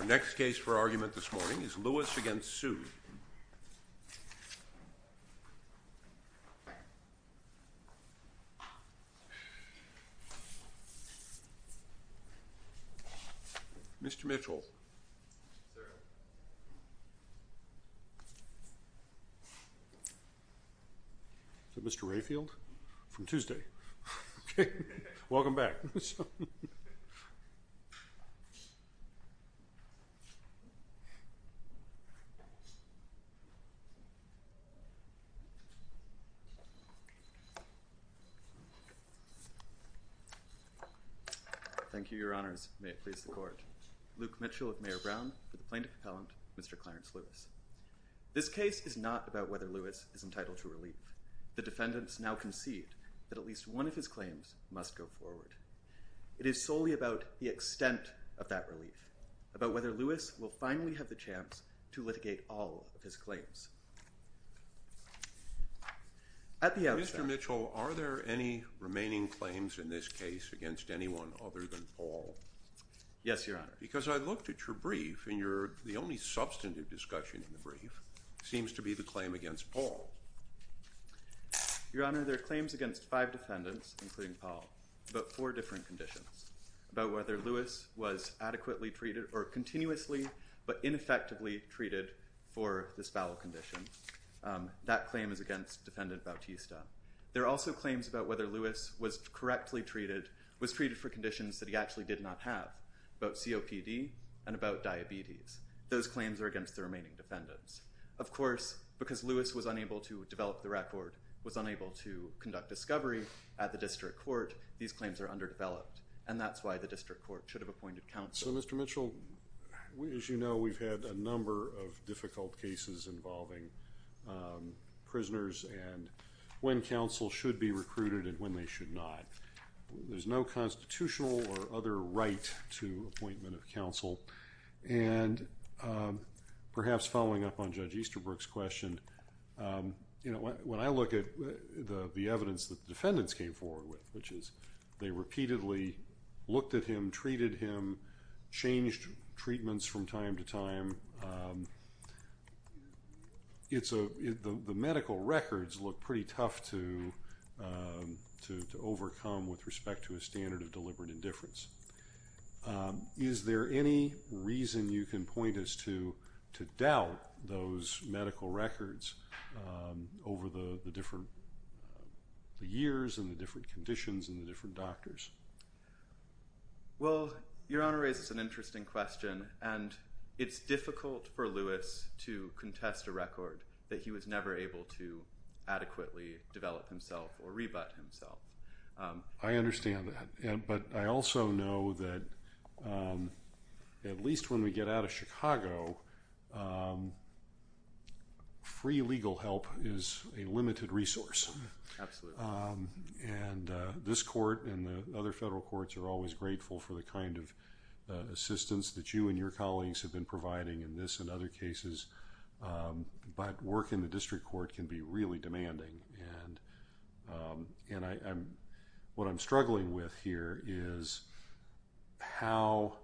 Our next case for argument this morning is Lewis v. Sood. Mr. Mitchell. Is that Mr. Rayfield? From Tuesday. Welcome back. Thank you, Your Honors. May it please the Court. Luke Mitchell of Mayor Brown for the Plaintiff Appellant, Mr. Clarence Lewis. This case is not about whether Lewis is entitled to relief. The defendants now concede that at least one of his claims must go forward. It is solely about the extent of that relief, about whether Lewis will finally have the chance to litigate all of his claims. At the outset... Mr. Mitchell, are there any remaining claims in this case against anyone other than Paul? Yes, Your Honor. Because I looked at your brief, and the only substantive discussion in the brief seems to be the claim against Paul. Your Honor, there are claims against five defendants, including Paul, about four different conditions, about whether Lewis was adequately treated or continuously but ineffectively treated for this foul condition. That claim is against Defendant Bautista. There are also claims about whether Lewis was correctly treated, was treated for conditions that he actually did not have, about COPD and about diabetes. Those claims are against the remaining defendants. Of course, because Lewis was unable to develop the record, was unable to conduct discovery at the District Court, these claims are underdeveloped, and that's why the District Court should have appointed counsel. So, Mr. Mitchell, as you know, we've had a number of difficult cases involving prisoners and when counsel should be recruited and when they should not. There's no constitutional or other right to appointment of counsel. And perhaps following up on Judge Easterbrook's question, you know, when I look at the evidence that the defendants came forward with, which is they repeatedly looked at him, treated him, changed treatments from time to time, the medical records look pretty tough to overcome with respect to a standard of deliberate indifference. Is there any reason you can point us to doubt those medical records over the different years and the different conditions and the different doctors? Well, Your Honor raises an interesting question, and it's difficult for Lewis to contest a record that he was never able to adequately develop himself or rebut himself. I understand that, but I also know that at least when we get out of Chicago, free legal help is a limited resource. Absolutely. And this court and the other federal courts are always grateful for the kind of assistance that you and your colleagues have been providing in this and other cases, but work in the District Court can be really demanding. And what I'm struggling with here is how,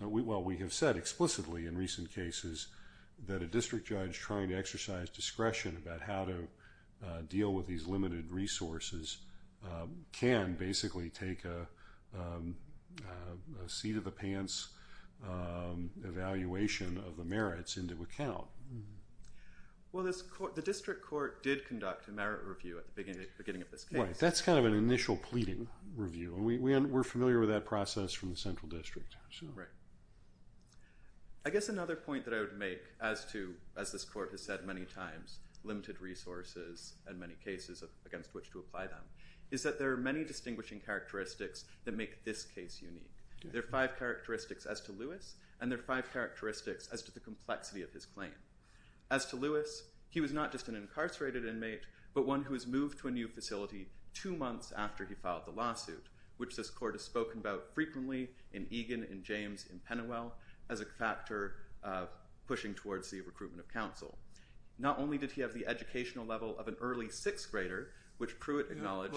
well, we have said explicitly in recent cases that a district judge trying to exercise discretion about how to deal with these limited resources can basically take a seat-of-the-pants evaluation of the merits into account. Well, the District Court did conduct a merit review at the beginning of this case. Right, that's kind of an initial pleading review. We're familiar with that process from the Central District. Right. I guess another point that I would make as to, as this court has said many times, limited resources and many cases against which to apply them, is that there are many distinguishing characteristics that make this case unique. There are five characteristics as to Lewis, and there are five characteristics as to the complexity of his claim. As to Lewis, he was not just an incarcerated inmate, but one who was moved to a new facility two months after he filed the lawsuit, which this court has spoken about frequently in Egan, in James, in Penwell, as a factor of pushing towards the recruitment of counsel. Not only did he have the educational level of an early sixth grader, which Pruitt acknowledged.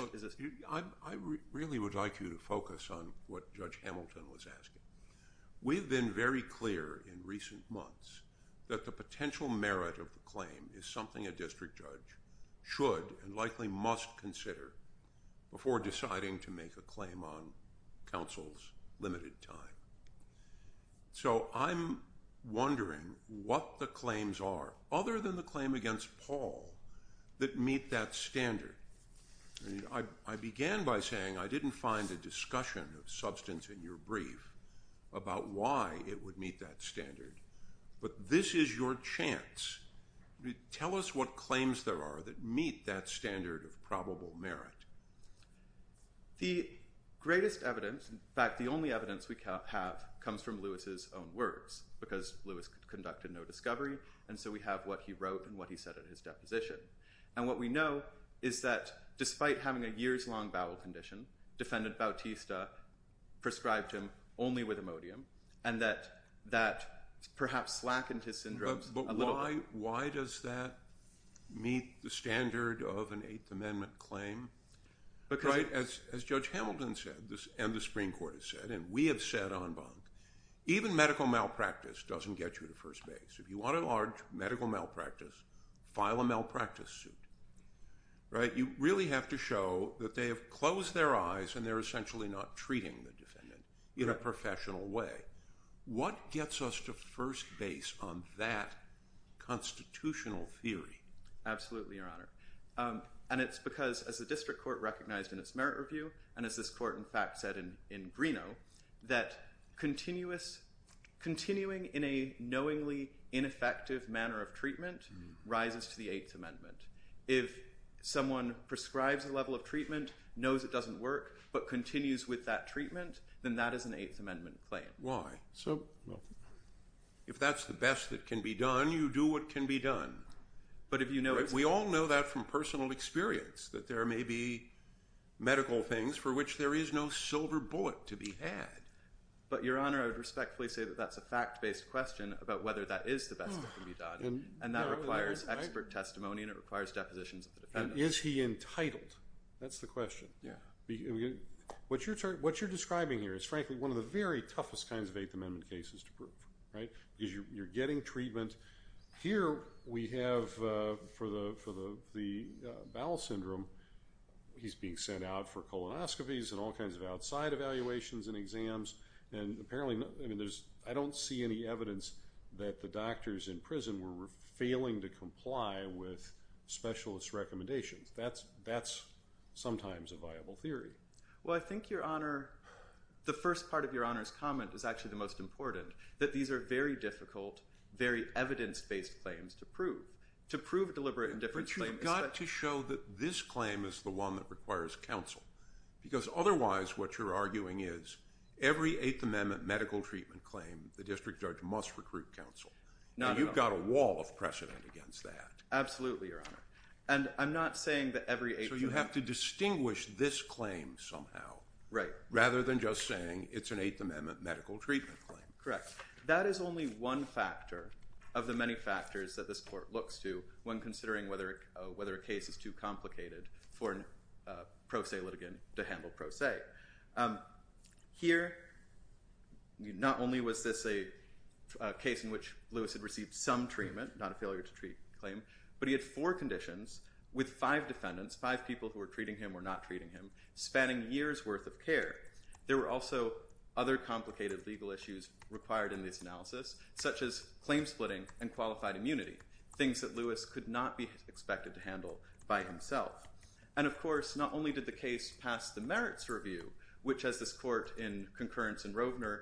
I really would like you to focus on what Judge Hamilton was asking. We've been very clear in recent months that the potential merit of the claim is something a district judge should and likely must consider before deciding to make a claim on counsel's limited time. So I'm wondering what the claims are, other than the claim against Paul, that meet that standard. I began by saying I didn't find a discussion of substance in your brief about why it would meet that standard, but this is your chance. Tell us what claims there are that meet that standard of probable merit. The greatest evidence, in fact the only evidence we have, comes from Lewis's own words, because Lewis conducted no discovery, and so we have what he wrote and what he said in his deposition. And what we know is that despite having a years-long bowel condition, Defendant Bautista prescribed him only with Imodium, and that perhaps slackened his syndromes a little. But why does that meet the standard of an Eighth Amendment claim? Because, as Judge Hamilton said, and the Supreme Court has said, and we have said en banc, even medical malpractice doesn't get you to first base. If you want a large medical malpractice, file a malpractice suit. You really have to show that they have closed their eyes and they're essentially not treating the defendant in a professional way. What gets us to first base on that constitutional theory? Absolutely, Your Honor. And it's because, as the district court recognized in its merit review, and as this court, in fact, said in Greeno, that continuing in a knowingly ineffective manner of treatment rises to the Eighth Amendment. If someone prescribes a level of treatment, knows it doesn't work, but continues with that treatment, then that is an Eighth Amendment claim. Why? If that's the best that can be done, you do what can be done. We all know that from personal experience, that there may be medical things for which there is no silver bullet to be had. But, Your Honor, I would respectfully say that that's a fact-based question about whether that is the best that can be done, and that requires expert testimony and it requires depositions of the defendant. And is he entitled? That's the question. What you're describing here is, frankly, one of the very toughest kinds of Eighth Amendment cases to prove, right? Because you're getting treatment. Here we have, for the bowel syndrome, he's being sent out for colonoscopies and all kinds of outside evaluations and exams, and apparently, I don't see any evidence that the doctors in prison were failing to comply with specialist recommendations. That's sometimes a viable theory. Well, I think, Your Honor, the first part of Your Honor's comment is actually the most important, that these are very difficult, very evidence-based claims to prove, to prove deliberate indifference claims. But you've got to show that this claim is the one that requires counsel, because otherwise what you're arguing is every Eighth Amendment medical treatment claim, the district judge must recruit counsel. Now, you've got a wall of precedent against that. Absolutely, Your Honor. And I'm not saying that every Eighth Amendment... So you have to distinguish this claim somehow... Right. ...rather than just saying it's an Eighth Amendment medical treatment claim. Correct. That is only one factor of the many factors that this court looks to when considering whether a case is too complicated for a pro se litigant to handle pro se. Here, not only was this a case in which Lewis had received some treatment, not a failure-to-treat claim, but he had four conditions with five defendants, five people who were treating him or not treating him, spanning years' worth of care. There were also other complicated legal issues required in this analysis, such as claim splitting and qualified immunity, things that Lewis could not be expected to handle by himself. And, of course, not only did the case pass the merits review, which, as this court in concurrence in Rovner,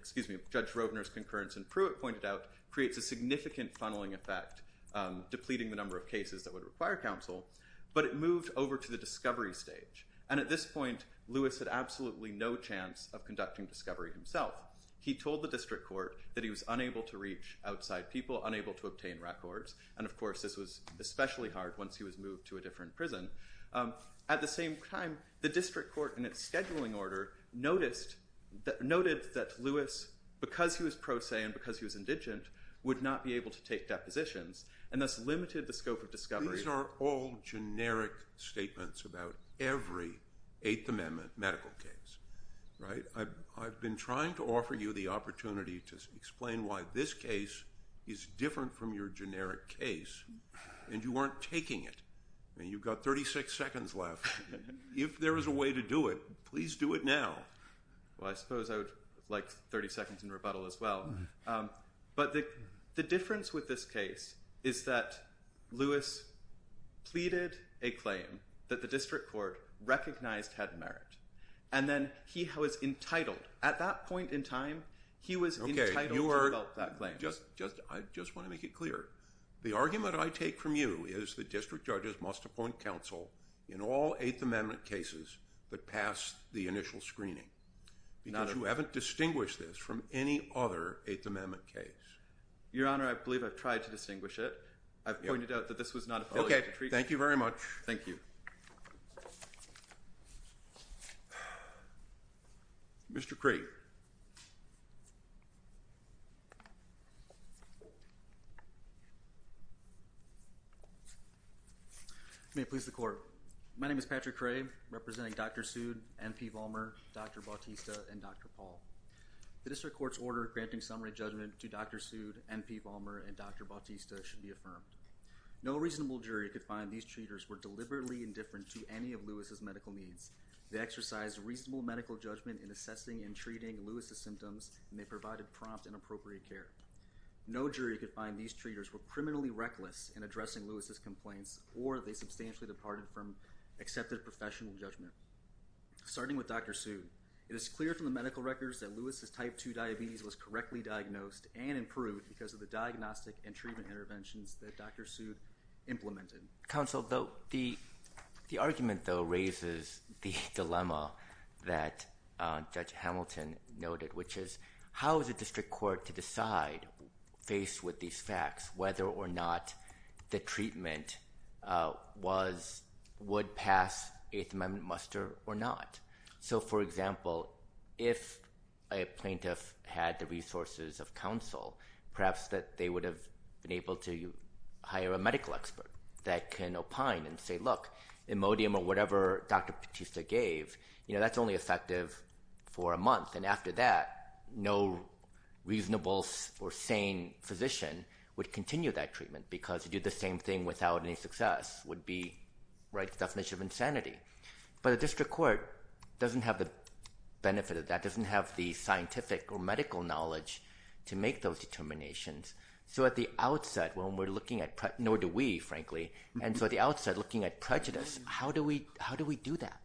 excuse me, Judge Rovner's concurrence in Pruitt pointed out, creates a significant funneling effect, depleting the number of cases that would require counsel, but it moved over to the discovery stage. And at this point, Lewis had absolutely no chance of conducting discovery himself. He told the district court that he was unable to reach outside people, unable to obtain records. And, of course, this was especially hard once he was moved to a different prison. At the same time, the district court, in its scheduling order, noted that Lewis, because he was pro se and because he was indigent, These are all generic statements about every Eighth Amendment medical case. I've been trying to offer you the opportunity to explain why this case is different from your generic case, and you weren't taking it. You've got 36 seconds left. If there is a way to do it, please do it now. Well, I suppose I would like 30 seconds in rebuttal as well. But the difference with this case is that Lewis pleaded a claim that the district court recognized had merit, and then he was entitled, at that point in time, he was entitled to develop that claim. I just want to make it clear. The argument I take from you is the district judges must appoint counsel in all Eighth Amendment cases that pass the initial screening because you haven't distinguished this from any other Eighth Amendment case. Your Honor, I believe I've tried to distinguish it. I've pointed out that this was not a public treatment. Okay. Thank you very much. Thank you. Mr. Craig. May it please the Court. My name is Patrick Craig, representing Dr. Sood, N.P. Vollmer, Dr. Bautista, and Dr. Paul. The district court's order granting summary judgment to Dr. Sood, N.P. Vollmer, and Dr. Bautista should be affirmed. No reasonable jury could find these treaters were deliberately indifferent to any of Lewis's medical needs. They exercised reasonable medical judgment in assessing and treating Lewis's symptoms, and they provided prompt and appropriate care. or they substantially departed from accepted professional judgment. Starting with Dr. Sood, it is clear from the medical records that Lewis's type 2 diabetes was correctly diagnosed and improved because of the diagnostic and treatment interventions that Dr. Sood implemented. Counsel, the argument, though, raises the dilemma that Judge Hamilton noted, which is how is a district court to decide, faced with these facts, whether or not the treatment would pass Eighth Amendment muster or not. So, for example, if a plaintiff had the resources of counsel, perhaps that they would have been able to hire a medical expert that can opine and say, look, Imodium or whatever Dr. Bautista gave, that's only effective for a month, and after that, no reasonable or sane physician would continue that treatment because to do the same thing without any success would be the definition of insanity. But a district court doesn't have the benefit of that, doesn't have the scientific or medical knowledge to make those determinations. So at the outset, when we're looking at prejudice, nor do we, frankly, and so at the outset, looking at prejudice, how do we do that?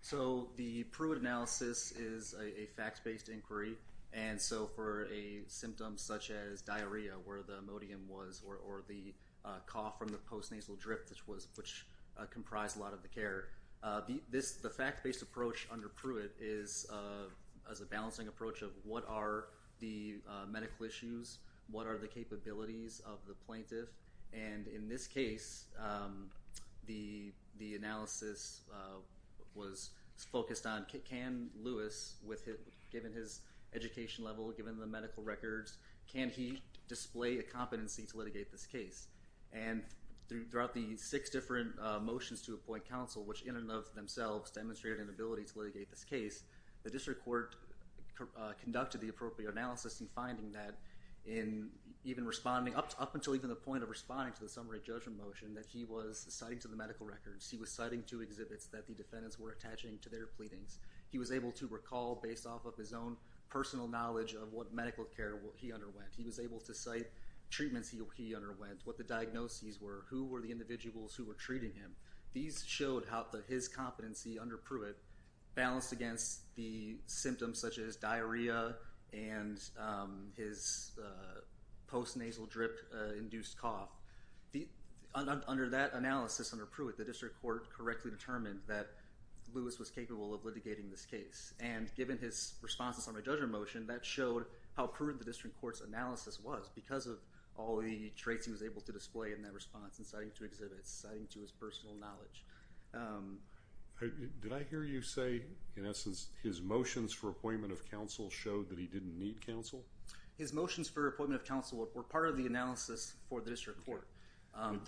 So the Pruitt analysis is a fact-based inquiry, and so for a symptom such as diarrhea, where the Imodium was, or the cough from the post-nasal drift, which comprised a lot of the care, the fact-based approach under Pruitt is a balancing approach of what are the medical issues, what are the capabilities of the plaintiff, and in this case, the analysis was focused on can Lewis, given his education level, given the medical records, can he display a competency to litigate this case? And throughout the six different motions to appoint counsel, which in and of themselves demonstrated an ability to litigate this case, the district court conducted the appropriate analysis in finding that in even responding, up until even the point of responding to the summary judgment motion, that he was citing to the medical records. He was citing to exhibits that the defendants were attaching to their pleadings. He was able to recall based off of his own personal knowledge of what medical care he underwent. He was able to cite treatments he underwent, what the diagnoses were, who were the individuals who were treating him. These showed how his competency under Pruitt balanced against the symptoms such as diarrhea and his post-nasal drip-induced cough. Under that analysis under Pruitt, the district court correctly determined that Lewis was capable of litigating this case. And given his response to the summary judgment motion, that showed how prudent the district court's analysis was because of all the traits he was able to display in that response, and citing to exhibits, citing to his personal knowledge. Did I hear you say, in essence, his motions for appointment of counsel showed that he didn't need counsel? His motions for appointment of counsel were part of the analysis for the district court.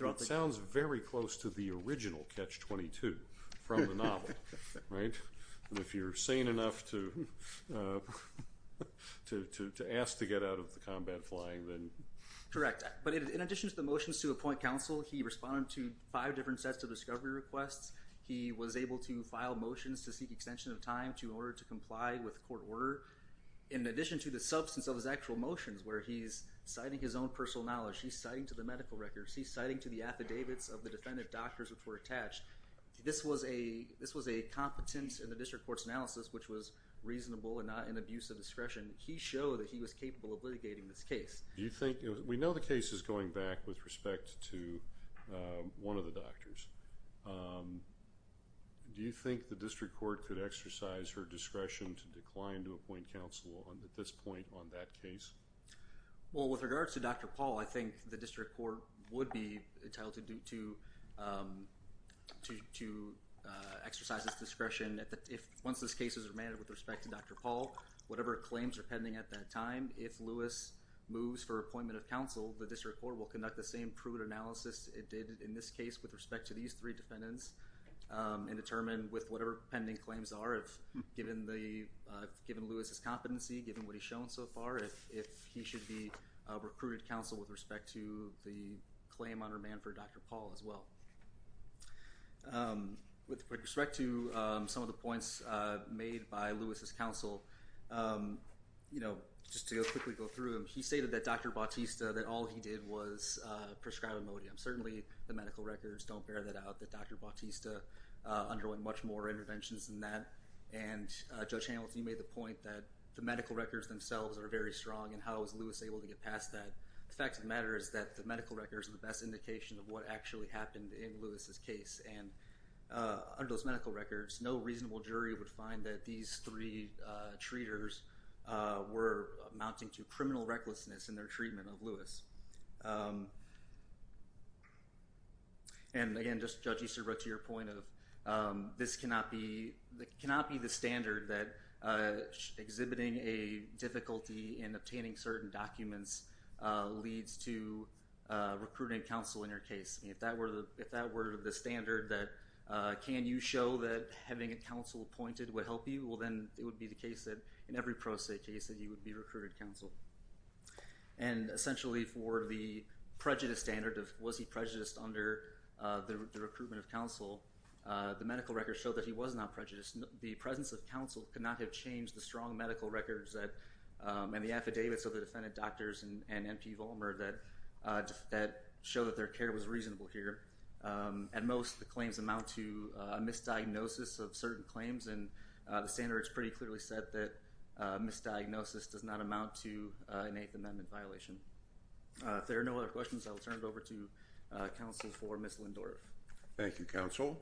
It sounds very close to the original Catch-22 from the novel, right? And if you're sane enough to ask to get out of the combat flying, then... Correct. But in addition to the motions to appoint counsel, he responded to five different sets of discovery requests. He was able to file motions to seek extension of time in order to comply with court order. In addition to the substance of his actual motions, where he's citing his own personal knowledge, he's citing to the medical records, he's citing to the affidavits of the defendant doctors which were attached. This was a competence in the district court's analysis which was reasonable and not an abuse of discretion. He showed that he was capable of litigating this case. Do you think... We know the case is going back with respect to one of the doctors. Do you think the district court could exercise her discretion to decline to appoint counsel at this point on that case? Well, with regards to Dr. Paul, I think the district court would be entitled to exercise this discretion. Once this case is remanded with respect to Dr. Paul, whatever claims are pending at that time, if Lewis moves for appointment of counsel, the district court will conduct the same prudent analysis it did in this case with respect to these three defendants and determine with whatever pending claims are, given Lewis's competency, given what he's shown so far, if he should be recruited counsel with respect to the claim on remand for Dr. Paul as well. With respect to some of the points made by Lewis's counsel, just to quickly go through them, he stated that Dr. Bautista, that all he did was prescribe Imodium. Certainly the medical records don't bear that out, that Dr. Bautista underwent much more interventions than that. And Judge Hamilton, you made the point that the medical records themselves are very strong and how was Lewis able to get past that. The fact of the matter is that the medical records are the best indication of what actually happened in Lewis's case. And under those medical records, no reasonable jury would find that these three treaters were amounting to criminal recklessness in their treatment of Lewis. And again, just Judge Easterbrook, to your point of this cannot be the standard that exhibiting a difficulty in obtaining certain documents leads to recruiting counsel in your case. If that were the standard that, can you show that having a counsel appointed would help you, well then it would be the case that in every pro se case that he would be recruited counsel. And essentially for the prejudice standard, was he prejudiced under the recruitment of counsel, the medical records show that he was not prejudiced. The presence of counsel could not have changed the strong medical records and the affidavits of the defendant doctors and MP Vollmer that show that their care was reasonable here. At most, the claims amount to a misdiagnosis of certain claims and the standards pretty clearly said that misdiagnosis does not amount to an Eighth Amendment violation. If there are no other questions, I will turn it over to counsel for Ms. Lindorf. Thank you, counsel.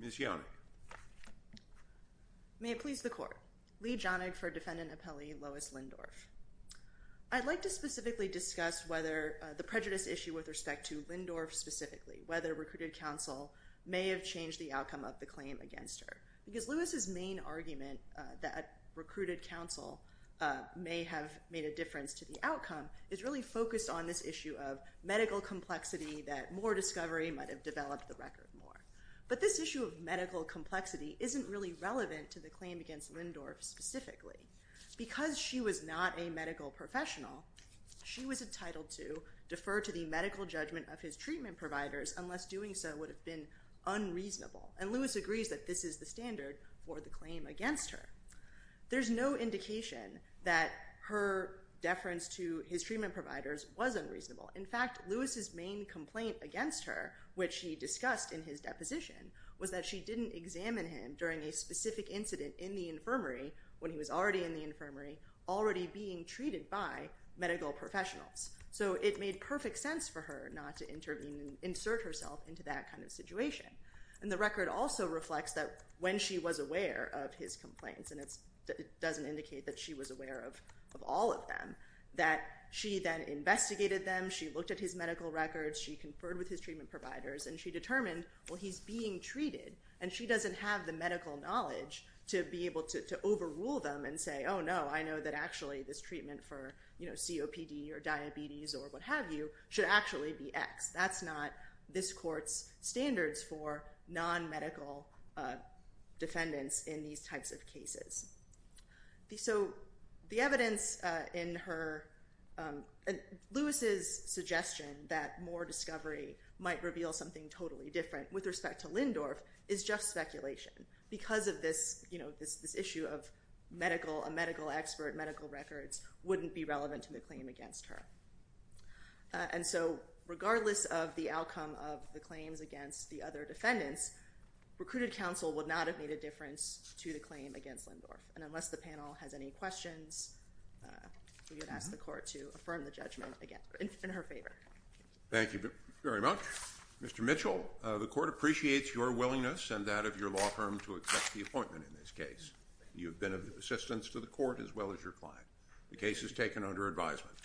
Ms. Yonig. May it please the court. Lee Yonig for defendant appellee, Lois Lindorf. I'd like to specifically discuss whether the prejudice issue with respect to Lindorf specifically, whether recruited counsel may have changed the outcome of the claim against her. Because Lois's main argument that recruited counsel may have made a difference to the outcome is really focused on this issue of medical complexity that more discovery might have developed the record more. But this issue of medical complexity isn't really relevant to the claim against Lindorf specifically. Because she was not a medical professional, she was entitled to defer to the medical judgment of his treatment providers unless doing so would have been unreasonable. And Lois agrees that this is the standard for the claim against her. There's no indication that her deference to his treatment providers was unreasonable. In fact, Lois's main complaint against her, which she discussed in his deposition, was that she didn't examine him during a specific incident in the infirmary when he was already in the infirmary, already being treated by medical professionals. So it made perfect sense for her not to intervene and insert herself into that kind of situation. And the record also reflects that when she was aware of his complaints, and it doesn't indicate that she was aware of all of them, that she then investigated them, she looked at his medical records, she conferred with his treatment providers, and she determined, well, he's being treated, and she doesn't have the medical knowledge to be able to overrule them and say, oh, no, I know that actually this treatment for COPD or diabetes or what have you should actually be X. That's not this court's standards for non-medical defendants in these types of cases. So the evidence in her – Lois's suggestion that more discovery might reveal something totally different with respect to Lindorf is just speculation because of this issue of a medical expert, medical records, wouldn't be relevant to the claim against her. And so regardless of the outcome of the claims against the other defendants, recruited counsel would not have made a difference to the claim against Lindorf. And unless the panel has any questions, we would ask the court to affirm the judgment in her favor. Thank you very much. Mr. Mitchell, the court appreciates your willingness and that of your law firm to accept the appointment in this case. You have been of assistance to the court as well as your client. The case is taken under advisement.